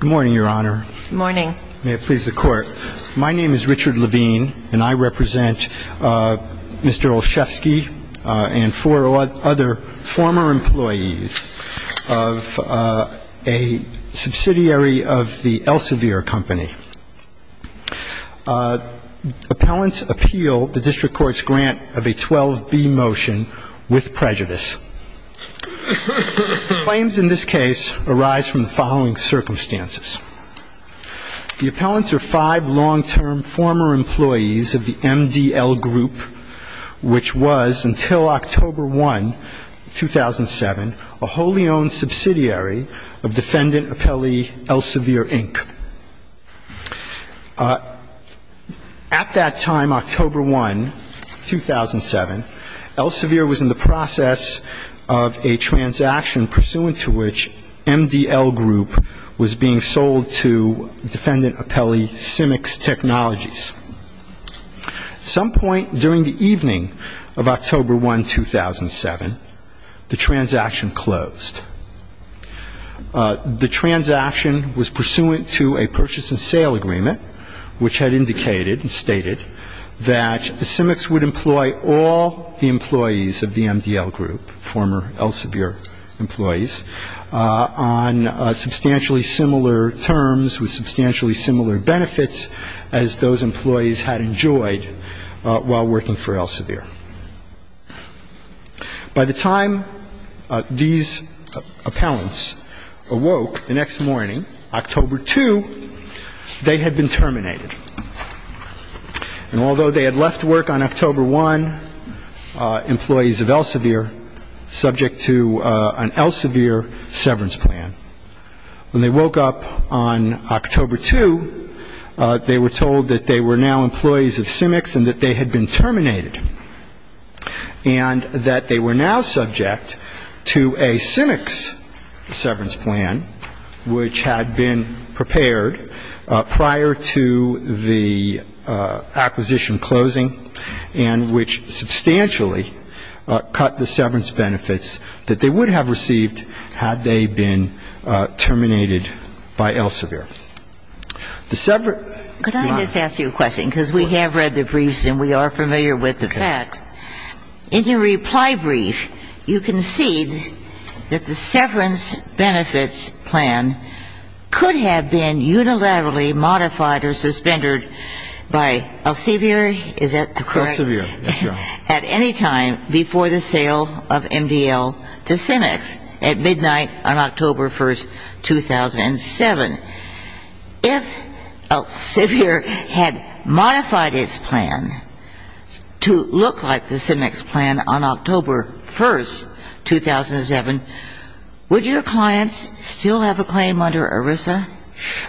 Good morning, Your Honor. Good morning. May it please the Court. My name is Richard Levine, and I represent Mr. Olszewski and four other former employees of a subsidiary of the Elsevier Company. Appellants appeal the district court's grant of a 12B motion with prejudice. Claims in this case arise from the following circumstances. The appellants are five long-term former employees of the MDL Group, which was, until October 1, 2007, a wholly owned subsidiary of defendant appellee Elsevier, Inc. At that time, October 1, 2007, Elsevier was in the process of a transaction pursuant to which MDL Group was being sold to defendant appellee Symyx Technologies. At some point during the evening of October 1, 2007, the transaction closed. The transaction was pursuant to a purchase and sale agreement which had indicated and stated that Symyx would employ all the employees of the MDL Group, former Elsevier employees, on substantially similar terms with substantially similar benefits as those employees had enjoyed while working for Elsevier. By the time these appellants awoke the next morning, October 2, they had been terminated. And although they had left work on October 1, employees of Elsevier, subject to an Elsevier severance plan, when they woke up on October 2, they were told that they were now employees of Symyx and that they had been terminated, and that they were now subject to a Symyx severance plan which had been prepared prior to the acquisition closing and which substantially cut the severance benefits that they would have received had they been terminated by Elsevier. Could I just ask you a question? Because we have read the briefs and we are familiar with the facts. In your reply brief, you concede that the severance benefits plan could have been unilaterally modified or suspended by Elsevier, is that correct? At any time before the sale of MDL to Symyx, at midnight on October 1, 2007. If Elsevier had modified its plan to look like the Symyx plan on October 1, 2007, would your clients still have a claim under ERISA?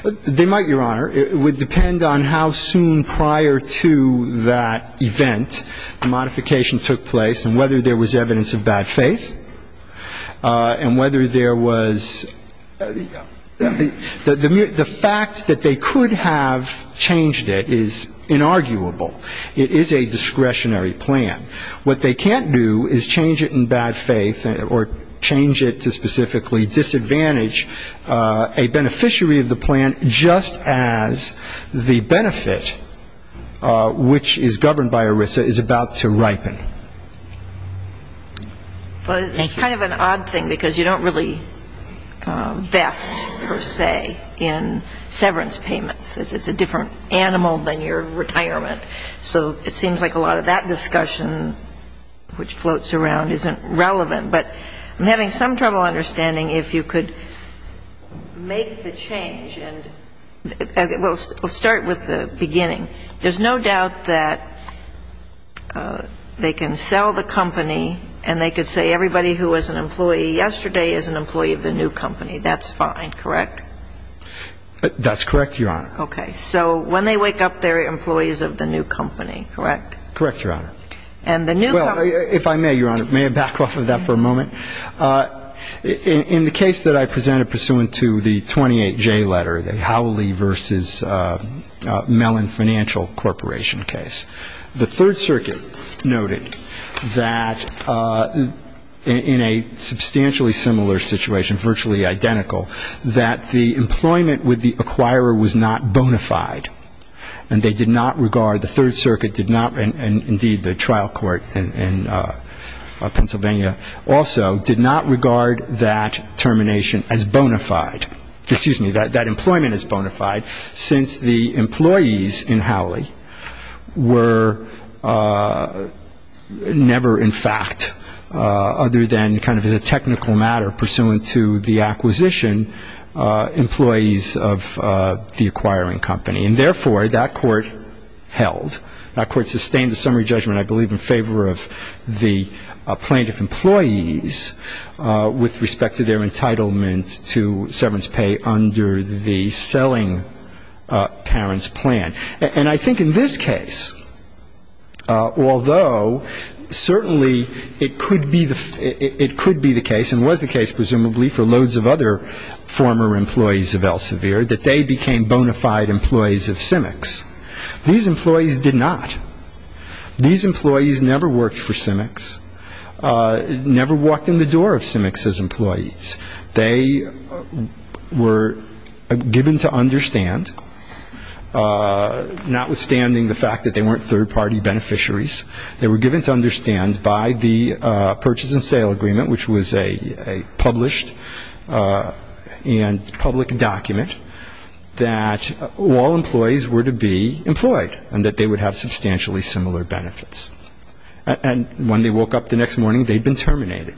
They might, Your Honor. It would depend on how soon prior to that event the modification took place and whether there was evidence of bad faith and whether there was the fact that they could have changed it is inarguable. It is a discretionary plan. What they can't do is change it in bad faith or change it to specifically disadvantage a beneficiary of the plan just as the benefit, which is governed by ERISA, is about to ripen. It's kind of an odd thing because you don't really vest, per se, in severance payments. It's a different animal than your retirement. So it seems like a lot of that discussion, which floats around, isn't relevant. But I'm having some trouble understanding if you could make the change and we'll start with the beginning. There's no doubt that they can sell the company and they could say everybody who was an employee yesterday is an employee of the new company. That's fine, correct? That's correct, Your Honor. Okay. So when they wake up, they're employees of the new company, correct? Correct, Your Honor. And the new company? Well, if I may, Your Honor, may I back off of that for a moment? In the case that I presented pursuant to the 28J letter, the Howley v. Mellon Financial Corporation case, the Third Circuit noted that in a substantially similar situation, virtually identical, that the employment with the acquirer was not bona fide and they did not regard, the Third Circuit did not, and indeed the trial court in Pennsylvania also, did not regard that termination as bona fide, excuse me, that employment as bona fide since the employees in Howley were never in fact, other than kind of as a technical matter pursuant to the acquisition, employees of the acquiring company. And therefore, that court held. That court sustained a summary judgment, I believe, in favor of the plaintiff employees with respect to their entitlement to severance pay under the selling parents plan. And I think in this case, although certainly it could be the case, and was the case presumably for loads of other former employees of Elsevier, that they became bona fide employees of Simic's. These employees did not. These employees never worked for Simic's, never walked in the door of Simic's employees. They were given to understand, notwithstanding the fact that they weren't third-party beneficiaries, they were given to understand by the purchase and sale agreement, which was a published and public document, that all employees were to be employed and that they would have substantially similar benefits. And when they woke up the next morning, they'd been terminated.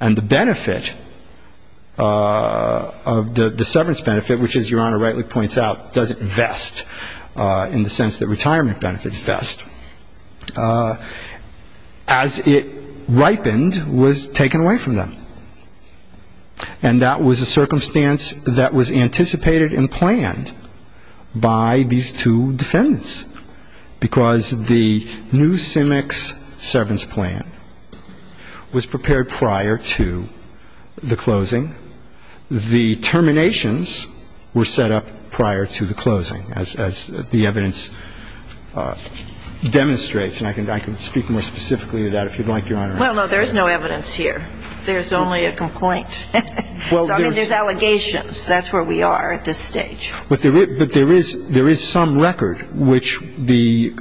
And the benefit of the severance benefit, which, as Your Honor rightly points out, doesn't vest in the sense that retirement benefits vest, as it ripened was taken away from them. And that was a circumstance that was anticipated and planned by these two defendants, because the new Simic's severance plan was prepared prior to the closing. The terminations were set up prior to the closing, as the evidence demonstrates. And I can speak more specifically to that if you'd like, Your Honor. Well, no, there's no evidence here. There's only a complaint. So, I mean, there's allegations. That's where we are at this stage. But there is some record, which the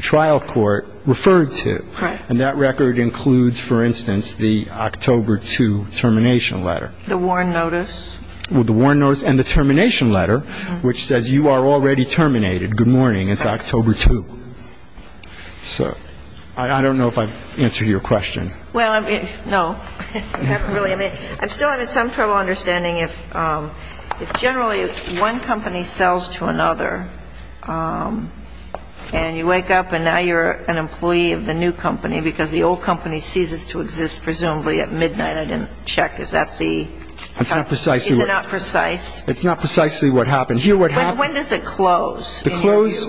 trial court referred to. Correct. And that record includes, for instance, the October 2 termination letter. The warn notice. Well, the warn notice and the termination letter, which says you are already terminated. Good morning. It's October 2. So I don't know if I've answered your question. Well, I mean, no. I haven't really. I mean, I'm still having some trouble understanding if generally one company sells to another, and you wake up and now you're an employee of the new company because the old company ceases to exist, presumably at midnight. I didn't check. Is that the? It's not precisely what. Is it not precise? It's not precisely what happened. When does it close? The close,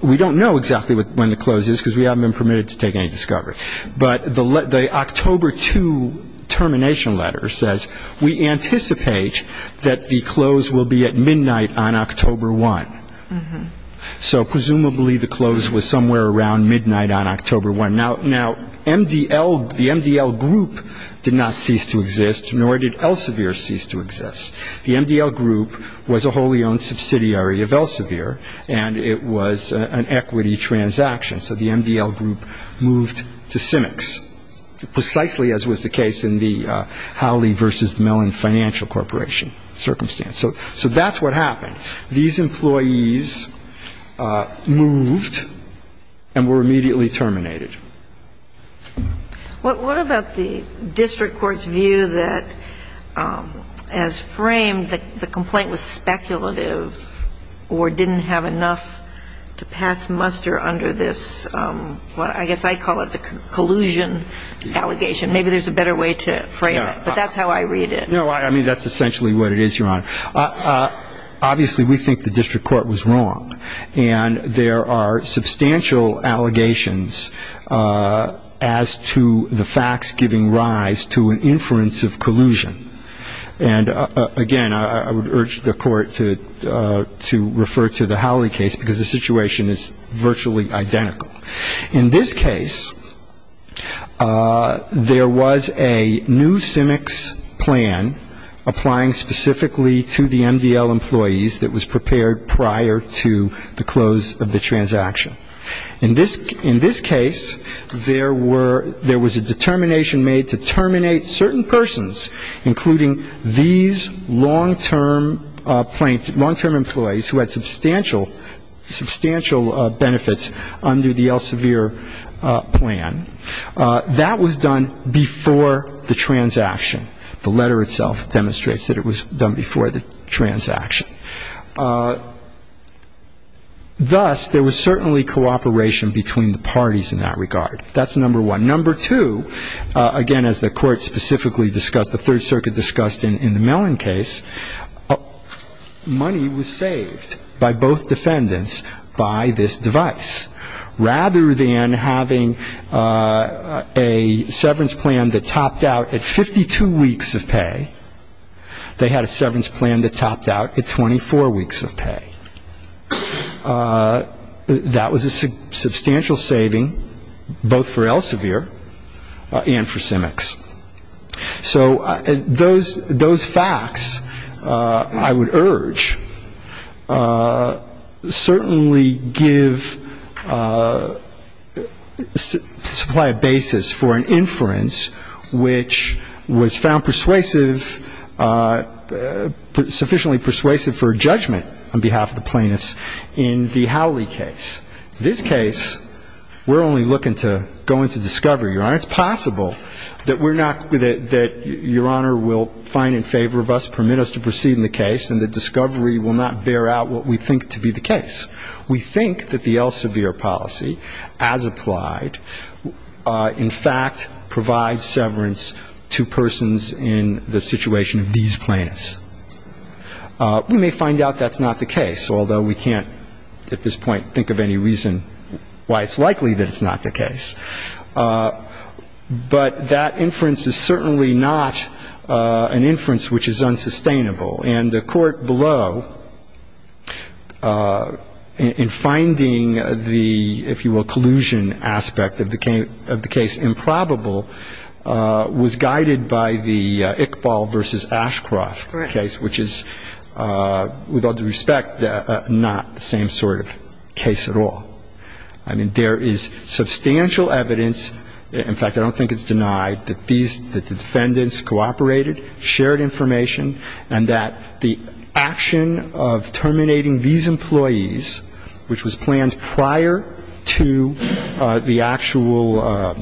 we don't know exactly when the close is, because we haven't been permitted to take any discovery. But the October 2 termination letter says we anticipate that the close will be at midnight on October 1. So presumably the close was somewhere around midnight on October 1. Now, MDL, the MDL group did not cease to exist, nor did Elsevier cease to exist. The MDL group was a wholly owned subsidiary of Elsevier, and it was an equity transaction. So the MDL group moved to Cimex, precisely as was the case in the Howley v. Mellon Financial Corporation circumstance. So that's what happened. These employees moved and were immediately terminated. What about the district court's view that, as framed, the complaint was speculative or didn't have enough to pass muster under this, what I guess I call it, the collusion allegation? Maybe there's a better way to frame it. But that's how I read it. No, I mean, that's essentially what it is, Your Honor. Obviously, we think the district court was wrong. And there are substantial allegations as to the facts giving rise to an inference of collusion. And, again, I would urge the Court to refer to the Howley case because the situation is virtually identical. In this case, there was a new Cimex plan applying specifically to the MDL employees that was prepared prior to the close of the transaction. In this case, there was a determination made to terminate certain persons, including these long-term employees who had substantial benefits under the Elsevier plan. That was done before the transaction. The letter itself demonstrates that it was done before the transaction. Thus, there was certainly cooperation between the parties in that regard. That's number one. Number two, again, as the Court specifically discussed, the Third Circuit discussed in the Mellon case, money was saved by both defendants by this device. Rather than having a severance plan that topped out at 52 weeks of pay, they had a severance plan that topped out at 24 weeks of pay. That was a substantial saving both for Elsevier and for Cimex. So those facts, I would urge, certainly supply a basis for an inference which was found persuasive, sufficiently persuasive for judgment on behalf of the plaintiffs in the Howley case. In this case, we're only looking to go into discovery. It's possible that Your Honor will find in favor of us, permit us to proceed in the case, and that discovery will not bear out what we think to be the case. We think that the Elsevier policy as applied, in fact, provides severance to persons in the situation of these plaintiffs. But that inference is certainly not an inference which is unsustainable. And the Court below, in finding the, if you will, collusion aspect of the case improbable, was guided by the Iqbal v. Ashcroft case, which is, with all due respect, not the same sort of case at all. I mean, there is substantial evidence, in fact, I don't think it's denied that the defendants cooperated, shared information, and that the action of terminating these employees, which was planned prior to the actual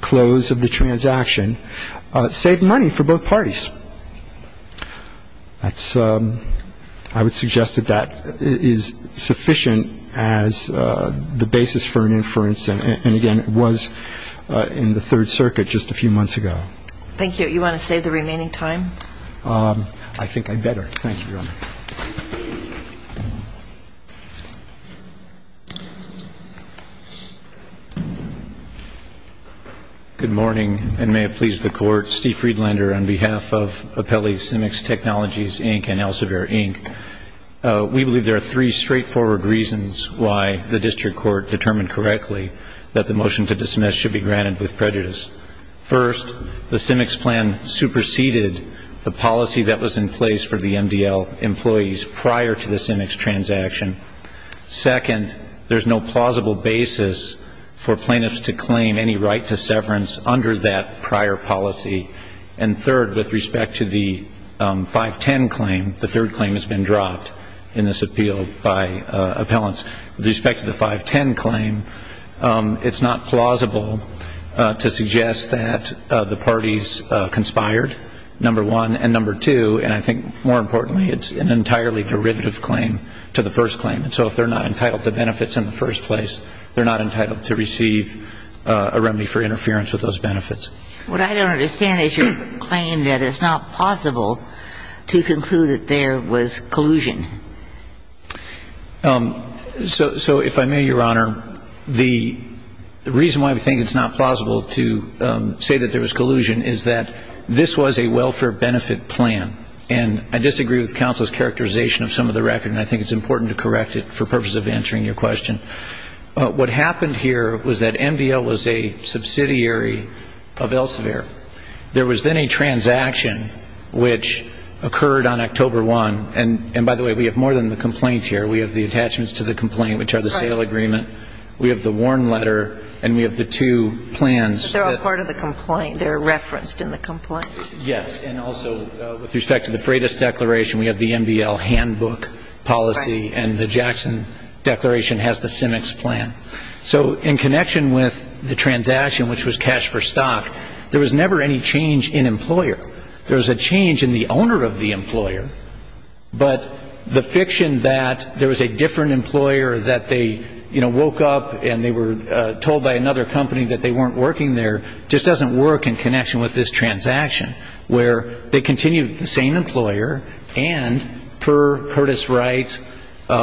close of the transaction, saved money for both parties. I would suggest that that is sufficient as the basis for an inference. And, again, it was in the Third Circuit just a few months ago. Thank you. You want to save the remaining time? I think I better. Thank you, Your Honor. Good morning, and may it please the Court. Steve Friedlander on behalf of Apelli Cimex Technologies, Inc. and Elsevier, Inc. We believe there are three straightforward reasons why the district court determined correctly that the motion to dismiss should be granted with prejudice. First, the Cimex plan superseded the policy that was in place for the MDL employees prior to the Cimex transaction. Second, there's no plausible basis for plaintiffs to claim any right to severance under that prior policy. And third, with respect to the 510 claim, the third claim has been dropped in this appeal by appellants. With respect to the 510 claim, it's not plausible to suggest that the parties conspired, number one. And number two, and I think more importantly, it's an entirely derivative claim to the first claim. And so if they're not entitled to benefits in the first place, they're not entitled to receive a remedy for interference with those benefits. What I don't understand is your claim that it's not plausible to conclude that there was collusion. So if I may, Your Honor, the reason why we think it's not plausible to say that there was collusion is that this was a welfare benefit plan. And I disagree with counsel's characterization of some of the record, and I think it's important to correct it for purposes of answering your question. What happened here was that MDL was a subsidiary of Elsevier. There was then a transaction which occurred on October 1. And by the way, we have more than the complaint here. We have the attachments to the complaint, which are the sale agreement. We have the warn letter, and we have the two plans. But they're all part of the complaint. They're referenced in the complaint. Yes. And also, with respect to the Freitas Declaration, we have the MDL handbook policy. Right. And the Jackson Declaration has the SIMEX plan. So in connection with the transaction, which was cash for stock, there was never any change in employer. There was a change in the owner of the employer, but the fiction that there was a different that they, you know, woke up and they were told by another company that they weren't working there just doesn't work in connection with this transaction, where they continued the same employer, and per Curtis Wright, per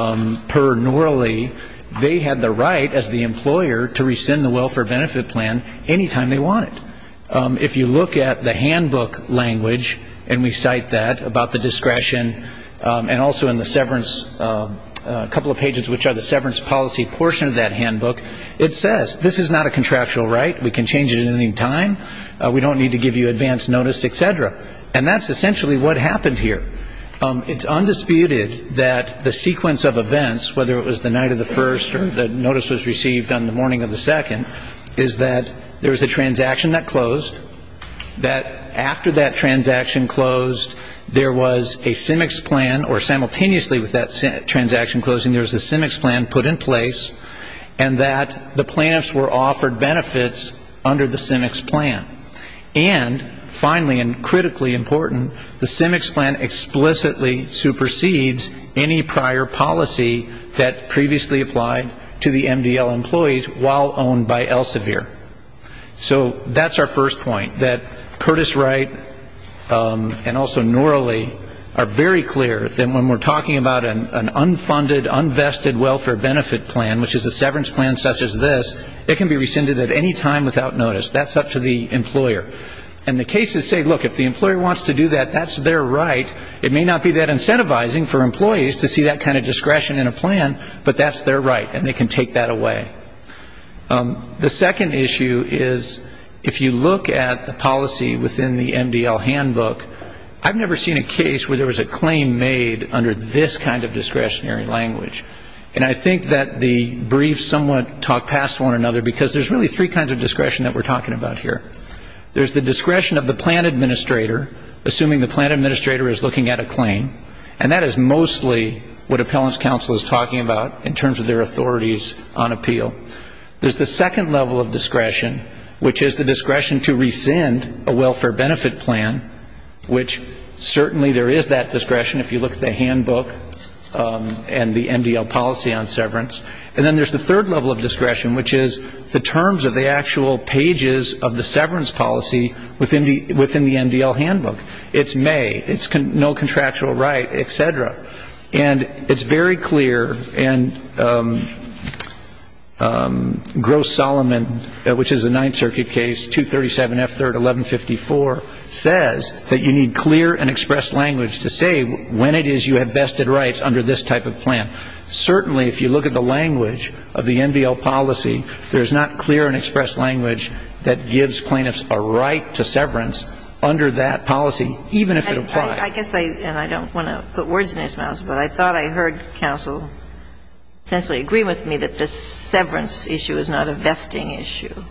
Norley, they had the right, as the employer, to rescind the welfare benefit plan any time they wanted. If you look at the handbook language, and we cite that about the discretion, and also in the severance, a couple of pages which are the severance policy portion of that handbook, it says this is not a contractual right. We can change it at any time. We don't need to give you advance notice, et cetera. And that's essentially what happened here. It's undisputed that the sequence of events, whether it was the night of the first or the notice was received on the morning of the second, is that there was a transaction that closed, that after that transaction closed, there was a CIMICS plan, or simultaneously with that transaction closing, there was a CIMICS plan put in place, and that the plaintiffs were offered benefits under the CIMICS plan. And finally, and critically important, the CIMICS plan explicitly supersedes any prior policy that previously applied to the MDL employees while owned by Elsevier. So that's our first point, that Curtis Wright and also Noraly are very clear that when we're talking about an unfunded, unvested welfare benefit plan, which is a severance plan such as this, it can be rescinded at any time without notice. That's up to the employer. And the cases say, look, if the employer wants to do that, that's their right. It may not be that incentivizing for employees to see that kind of discretion in a plan, but that's their right, and they can take that away. The second issue is if you look at the policy within the MDL handbook, I've never seen a case where there was a claim made under this kind of discretionary language, and I think that the briefs somewhat talk past one another, because there's really three kinds of discretion that we're talking about here. There's the discretion of the plan administrator, assuming the plan administrator is looking at a claim, and that is mostly what appellant's counsel is talking about in terms of their authorities on appeal. There's the second level of discretion, which is the discretion to rescind a welfare benefit plan, which certainly there is that discretion if you look at the handbook and the MDL policy on severance. And then there's the third level of discretion, which is the terms of the actual pages of the severance policy within the MDL handbook. It's may, it's no contractual right, et cetera. And it's very clear, and Gross-Solomon, which is a Ninth Circuit case, 237F3-1154, says that you need clear and expressed language to say when it is you have vested rights under this type of plan. Certainly if you look at the language of the MDL policy, there's not clear and expressed language that gives plaintiffs a right to severance under that policy, even if it applies. I guess I, and I don't want to put words in his mouth, but I thought I heard counsel essentially agree with me that this severance issue is not a vesting issue.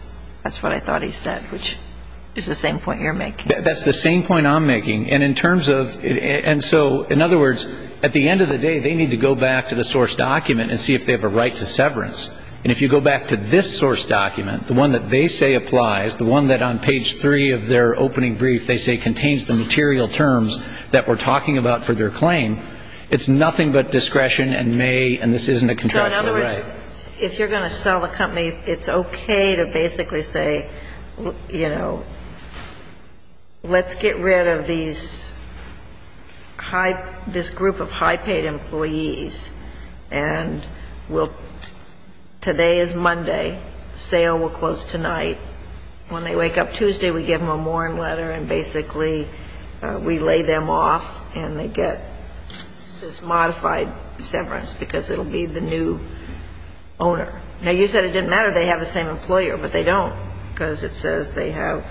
That's what I thought he said, which is the same point you're making. That's the same point I'm making. And in terms of, and so, in other words, at the end of the day, they need to go back to the source document and see if they have a right to severance. And if you go back to this source document, the one that they say applies, the one that on page 3 of their opening brief they say contains the material terms that we're talking about for their claim, it's nothing but discretion and may, and this isn't a contractual right. So, in other words, if you're going to sell a company, it's okay to basically say, you know, let's get rid of these high, this group of high-paid employees, and we'll, today is Monday, sale will close tonight. When they wake up Tuesday, we give them a morn letter, and basically we lay them off, and they get this modified severance, because it will be the new owner. Now, you said it didn't matter if they have the same employer, but they don't, because it says they have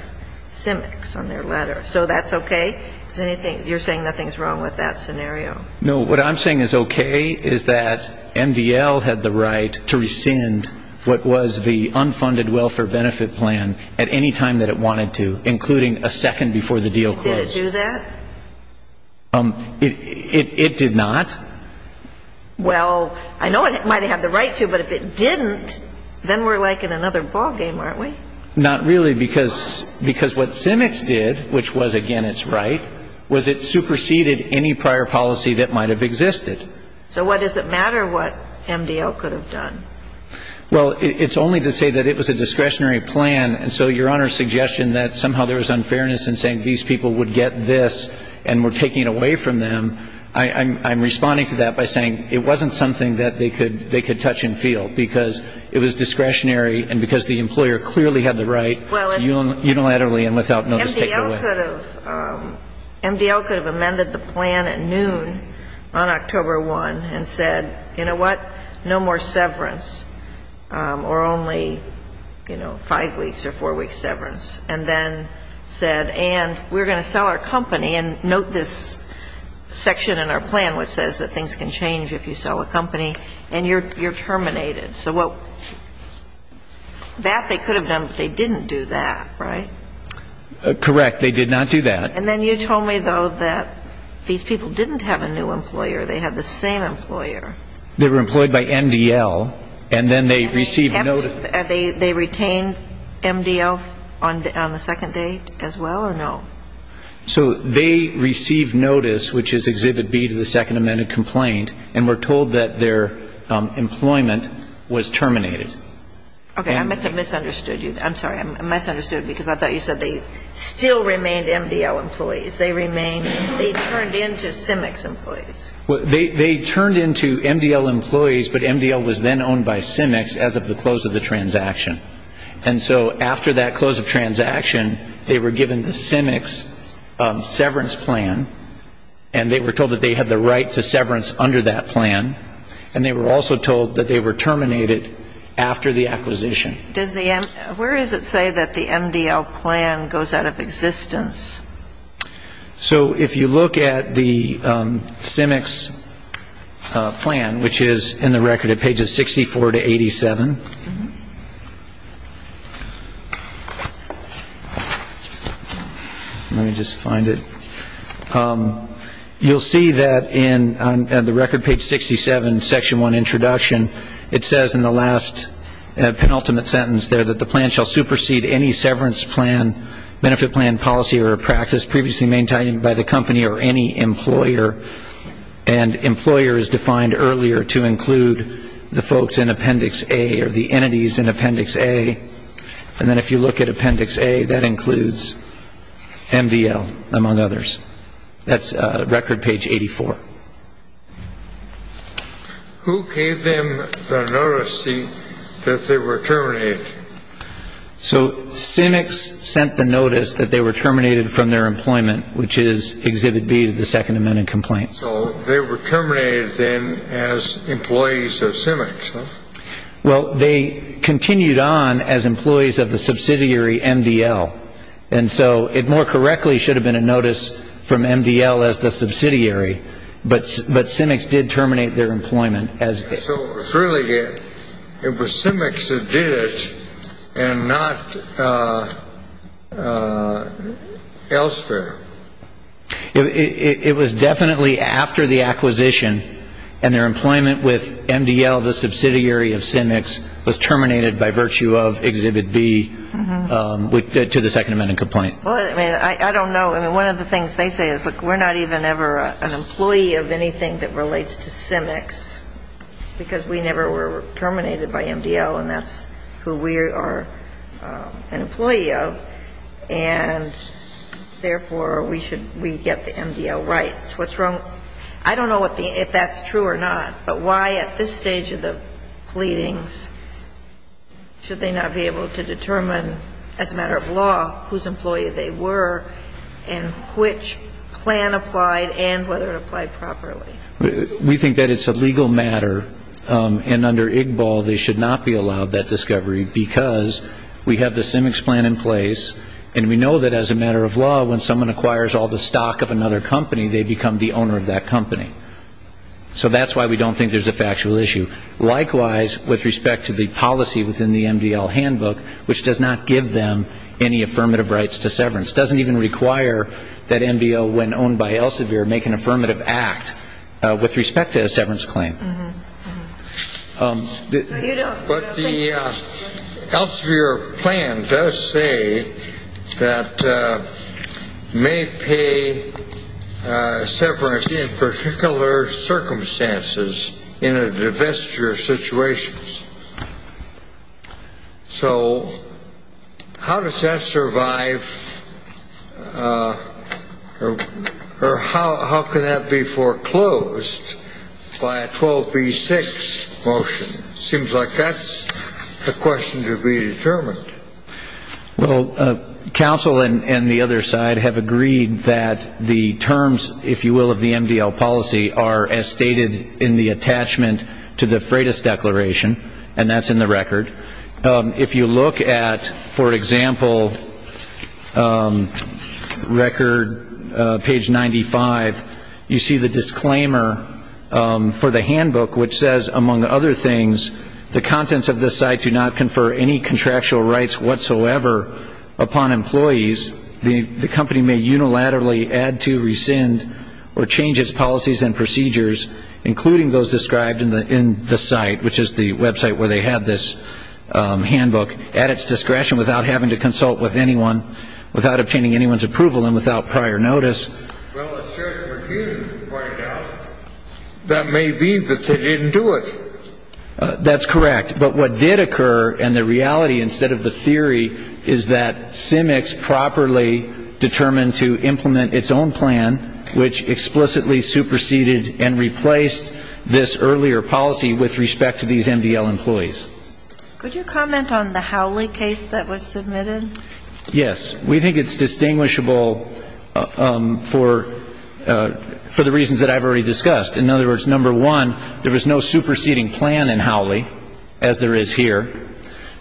CEMEX on their letter. So that's okay? Is anything, you're saying nothing's wrong with that scenario? No. What I'm saying is okay is that MDL had the right to rescind what was the unfunded welfare benefit plan at any point in the process, and it did that at any time that it wanted to, including a second before the deal closed. Did it do that? It did not. Well, I know it might have the right to, but if it didn't, then we're like in another ballgame, aren't we? Not really, because what CEMEX did, which was, again, its right, was it superseded any prior policy that might have existed. So what does it matter what MDL could have done? Well, it's only to say that it was a discretionary plan, and so Your Honor's suggestion that somehow there was unfairness in saying these people would get this and were taken away from them, I'm responding to that by saying it wasn't something that they could touch and feel, because it was discretionary and because the employer clearly had the right to unilaterally and without notice take it away. But MDL could have amended the plan at noon on October 1 and said, you know what, no more severance or only, you know, five weeks or four weeks severance, and then said, and we're going to sell our company, and note this section in our plan which says that things can change if you sell a company, and you're terminated. So that they could have done, but they didn't do that, right? Correct. They did not do that. And then you told me, though, that these people didn't have a new employer. They had the same employer. They were employed by MDL, and then they received notice. And they retained MDL on the second date as well, or no? So they received notice, which is Exhibit B to the Second Amendment complaint, and were told that their employment was terminated. Okay. I misunderstood you. I'm sorry. I misunderstood because I thought you said they still remained MDL employees. They remained. They turned into CIMEX employees. They turned into MDL employees, but MDL was then owned by CIMEX as of the close of the transaction. And so after that close of transaction, they were given the CIMEX severance plan, and they were told that they had the right to severance under that plan, and they were also told that they were terminated after the acquisition. Where does it say that the MDL plan goes out of existence? So if you look at the CIMEX plan, which is in the record at pages 64 to 87, let me just find it. You'll see that in the record page 67, Section 1 Introduction, it says in the last penultimate sentence there that the plan shall supersede any severance plan, benefit plan, policy, or practice previously maintained by the company or any employer. And employer is defined earlier to include the folks in Appendix A or the entities in Appendix A. And then if you look at Appendix A, that includes MDL, among others. That's record page 84. Who gave them the notice that they were terminated? So CIMEX sent the notice that they were terminated from their employment, which is Exhibit B of the Second Amendment complaint. So they were terminated then as employees of CIMEX, huh? Well, they continued on as employees of the subsidiary MDL. And so it more correctly should have been a notice from MDL as the subsidiary, but CIMEX did terminate their employment. So it was really CIMEX that did it and not elsewhere? It was definitely after the acquisition, and their employment with MDL, the subsidiary of CIMEX, was terminated by virtue of Exhibit B to the Second Amendment complaint. Well, I mean, I don't know. I mean, one of the things they say is, look, we're not even ever an employee of anything that relates to CIMEX because we never were terminated by MDL, and that's who we are an employee of. And therefore, we should we get the MDL rights. What's wrong? I don't know if that's true or not, but why at this stage of the pleadings should they not be able to determine as a matter of law whose employee they were and which plan applied and whether it applied properly? We think that it's a legal matter, and under IGBAL they should not be allowed that discovery because we have the CIMEX plan in place, and we know that as a matter of law, when someone acquires all the stock of another company, they become the owner of that company. So that's why we don't think there's a factual issue. Likewise, with respect to the policy within the MDL handbook, which does not give them any affirmative rights to severance, doesn't even require that MDL, when owned by Elsevier, make an affirmative act with respect to a severance claim. But the Elsevier plan does say that may pay severance in particular circumstances in a divestiture situation. So how does that survive, or how can that be foreclosed by a 12B6 motion? It seems like that's the question to be determined. Well, counsel and the other side have agreed that the terms, if you will, of the MDL policy are, as stated in the attachment to the Freitas Declaration, and that's in the record. If you look at, for example, record page 95, you see the disclaimer for the handbook, which says, among other things, the contents of this site do not confer any contractual rights whatsoever upon employees. The company may unilaterally add to, rescind, or change its policies and procedures, including those described in the site, which is the website where they have this handbook, at its discretion without having to consult with anyone, without obtaining anyone's approval, and without prior notice. Well, as Sheriff McKeon pointed out, that may be, but they didn't do it. That's correct. But what did occur, and the reality instead of the theory, is that Cimex properly determined to implement its own plan, which explicitly superseded and replaced this earlier policy with respect to these MDL employees. Could you comment on the Howley case that was submitted? Yes. We think it's distinguishable for the reasons that I've already discussed. In other words, number one, there was no superseding plan in Howley, as there is here.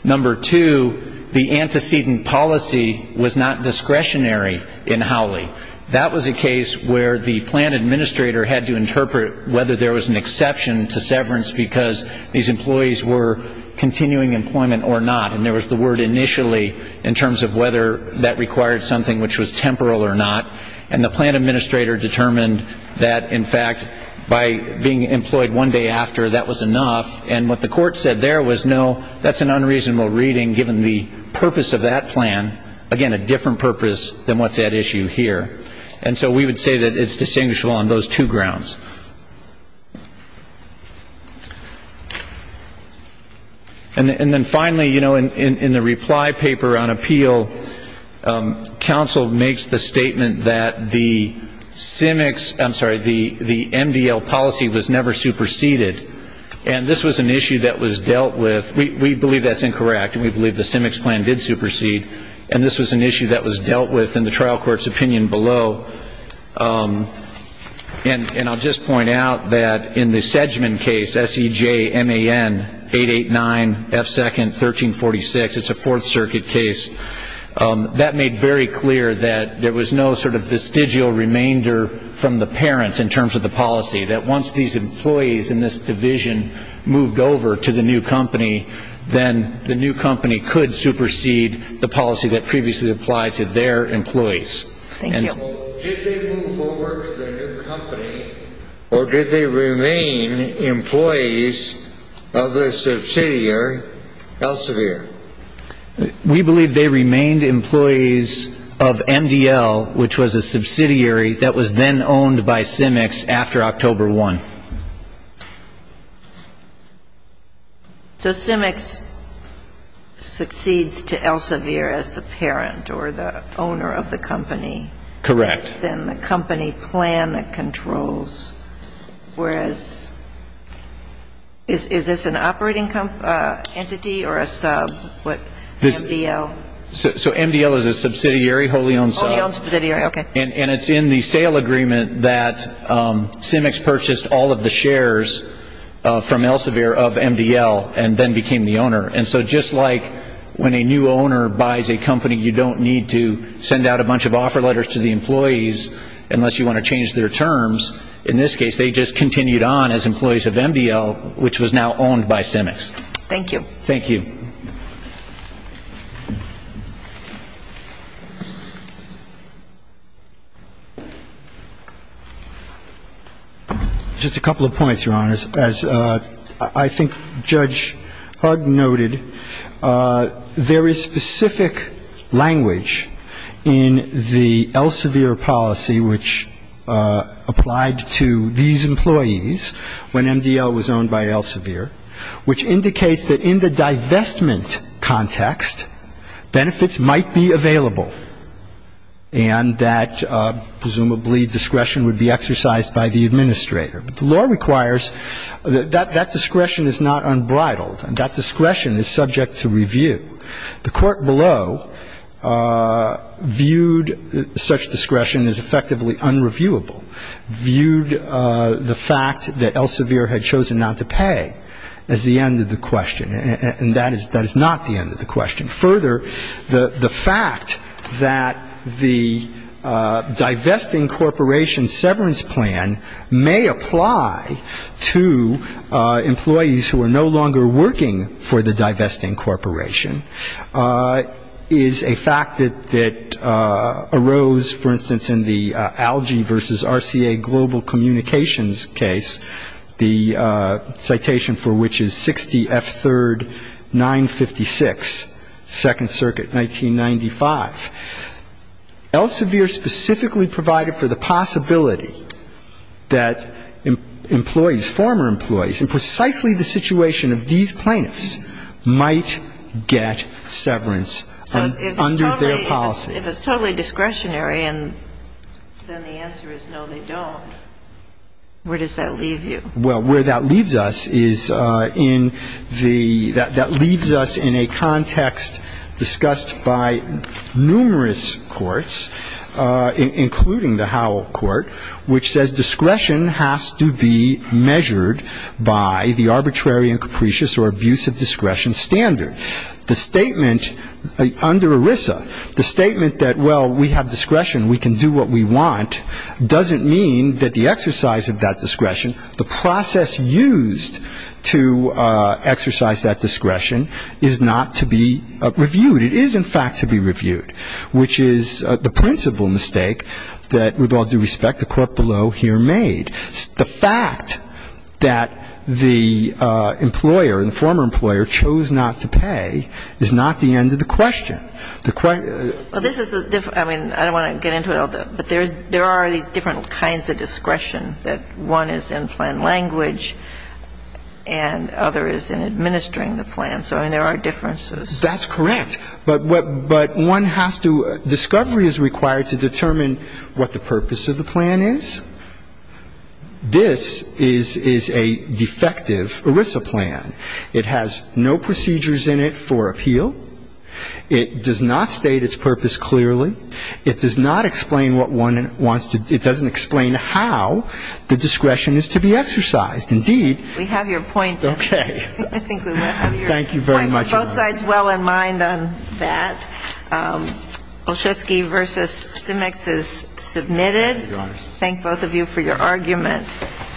Number two, the antecedent policy was not discretionary in Howley. That was a case where the plan administrator had to interpret whether there was an exception to severance because these employees were continuing employment or not. And there was the word initially in terms of whether that required something which was temporal or not. And the plan administrator determined that, in fact, by being employed one day after, that was enough. And what the court said there was, no, that's an unreasonable reading given the purpose of that plan, again, a different purpose than what's at issue here. And so we would say that it's distinguishable on those two grounds. And then finally, you know, in the reply paper on appeal, counsel makes the statement that the SIMICS ‑‑ I'm sorry, the MDL policy was never superseded. And this was an issue that was dealt with. We believe that's incorrect, and we believe the SIMICS plan did supersede. And this was an issue that was dealt with in the trial court's opinion below. And I'll just point out that in the Sedgman case, S-E-J-M-A-N, 889F2nd, 1346, it's a Fourth Circuit case, that made very clear that there was no sort of vestigial remainder from the parents in terms of the policy, that once these employees in this division moved over to the new company, then the new company could supersede the policy that previously applied to their employees. Thank you. Did they move over to the new company, or did they remain employees of the subsidiary, Elsevier? We believe they remained employees of MDL, which was a subsidiary that was then owned by SIMICS after October 1. So SIMICS succeeds to Elsevier as the parent or the owner of the company? Correct. Then the company plan that controls, whereas, is this an operating entity or a sub, MDL? So MDL is a subsidiary wholly owned sub. Wholly owned subsidiary, okay. And it's in the sale agreement that SIMICS purchased all of the shares from Elsevier of MDL and then became the owner. And so just like when a new owner buys a company, you don't need to send out a bunch of offer letters to the employees unless you want to change their terms. In this case, they just continued on as employees of MDL, which was now owned by SIMICS. Thank you. Thank you. Just a couple of points, Your Honors. As I think Judge Hug noted, there is specific language in the Elsevier policy, which applied to these employees when MDL was owned by Elsevier, which indicates that in the divestment context, benefits might be available and that presumably discretion would be exercised by the administrator. But the law requires that that discretion is not unbridled. That discretion is subject to review. The court below viewed such discretion as effectively unreviewable, viewed the fact that Elsevier had chosen not to pay as the end of the question. And that is not the end of the question. Further, the fact that the divesting corporation severance plan may apply to employees who are no longer working for the divesting corporation is a fact that arose, for instance, in the ALGEE v. RCA Global Communications case, the citation for which is 60F3-956, Second Circuit, 1995. Elsevier specifically provided for the possibility that employees, former employees, in precisely the situation of these plaintiffs, might get severance under their policy. If it's totally discretionary and then the answer is no, they don't, where does that leave you? Well, where that leaves us is in the – that leaves us in a context discussed by numerous courts, including the Howell Court, which says discretion has to be measured by the arbitrary and capricious or abusive discretion standard. The statement under ERISA, the statement that, well, we have discretion, we can do what we want, doesn't mean that the exercise of that discretion, the process used to exercise that discretion is not to be reviewed. It is, in fact, to be reviewed, which is the principal mistake that, with all due respect, the court below here made. The fact that the employer, the former employer, chose not to pay is not the end of the question. The question – Well, this is a – I mean, I don't want to get into it all, but there are these different kinds of discretion that one is in plan language and other is in administering the plan. So, I mean, there are differences. That's correct. But one has to – discovery is required to determine what the purpose of the plan is. This is a defective ERISA plan. It has no procedures in it for appeal. It does not state its purpose clearly. It does not explain what one wants to – it doesn't explain how the discretion is to be exercised. Indeed – We have your point. Okay. I think we have your point. Thank you very much. Both sides well in mind on that. Olszewski v. Simeks is submitted. Thank both of you for your argument.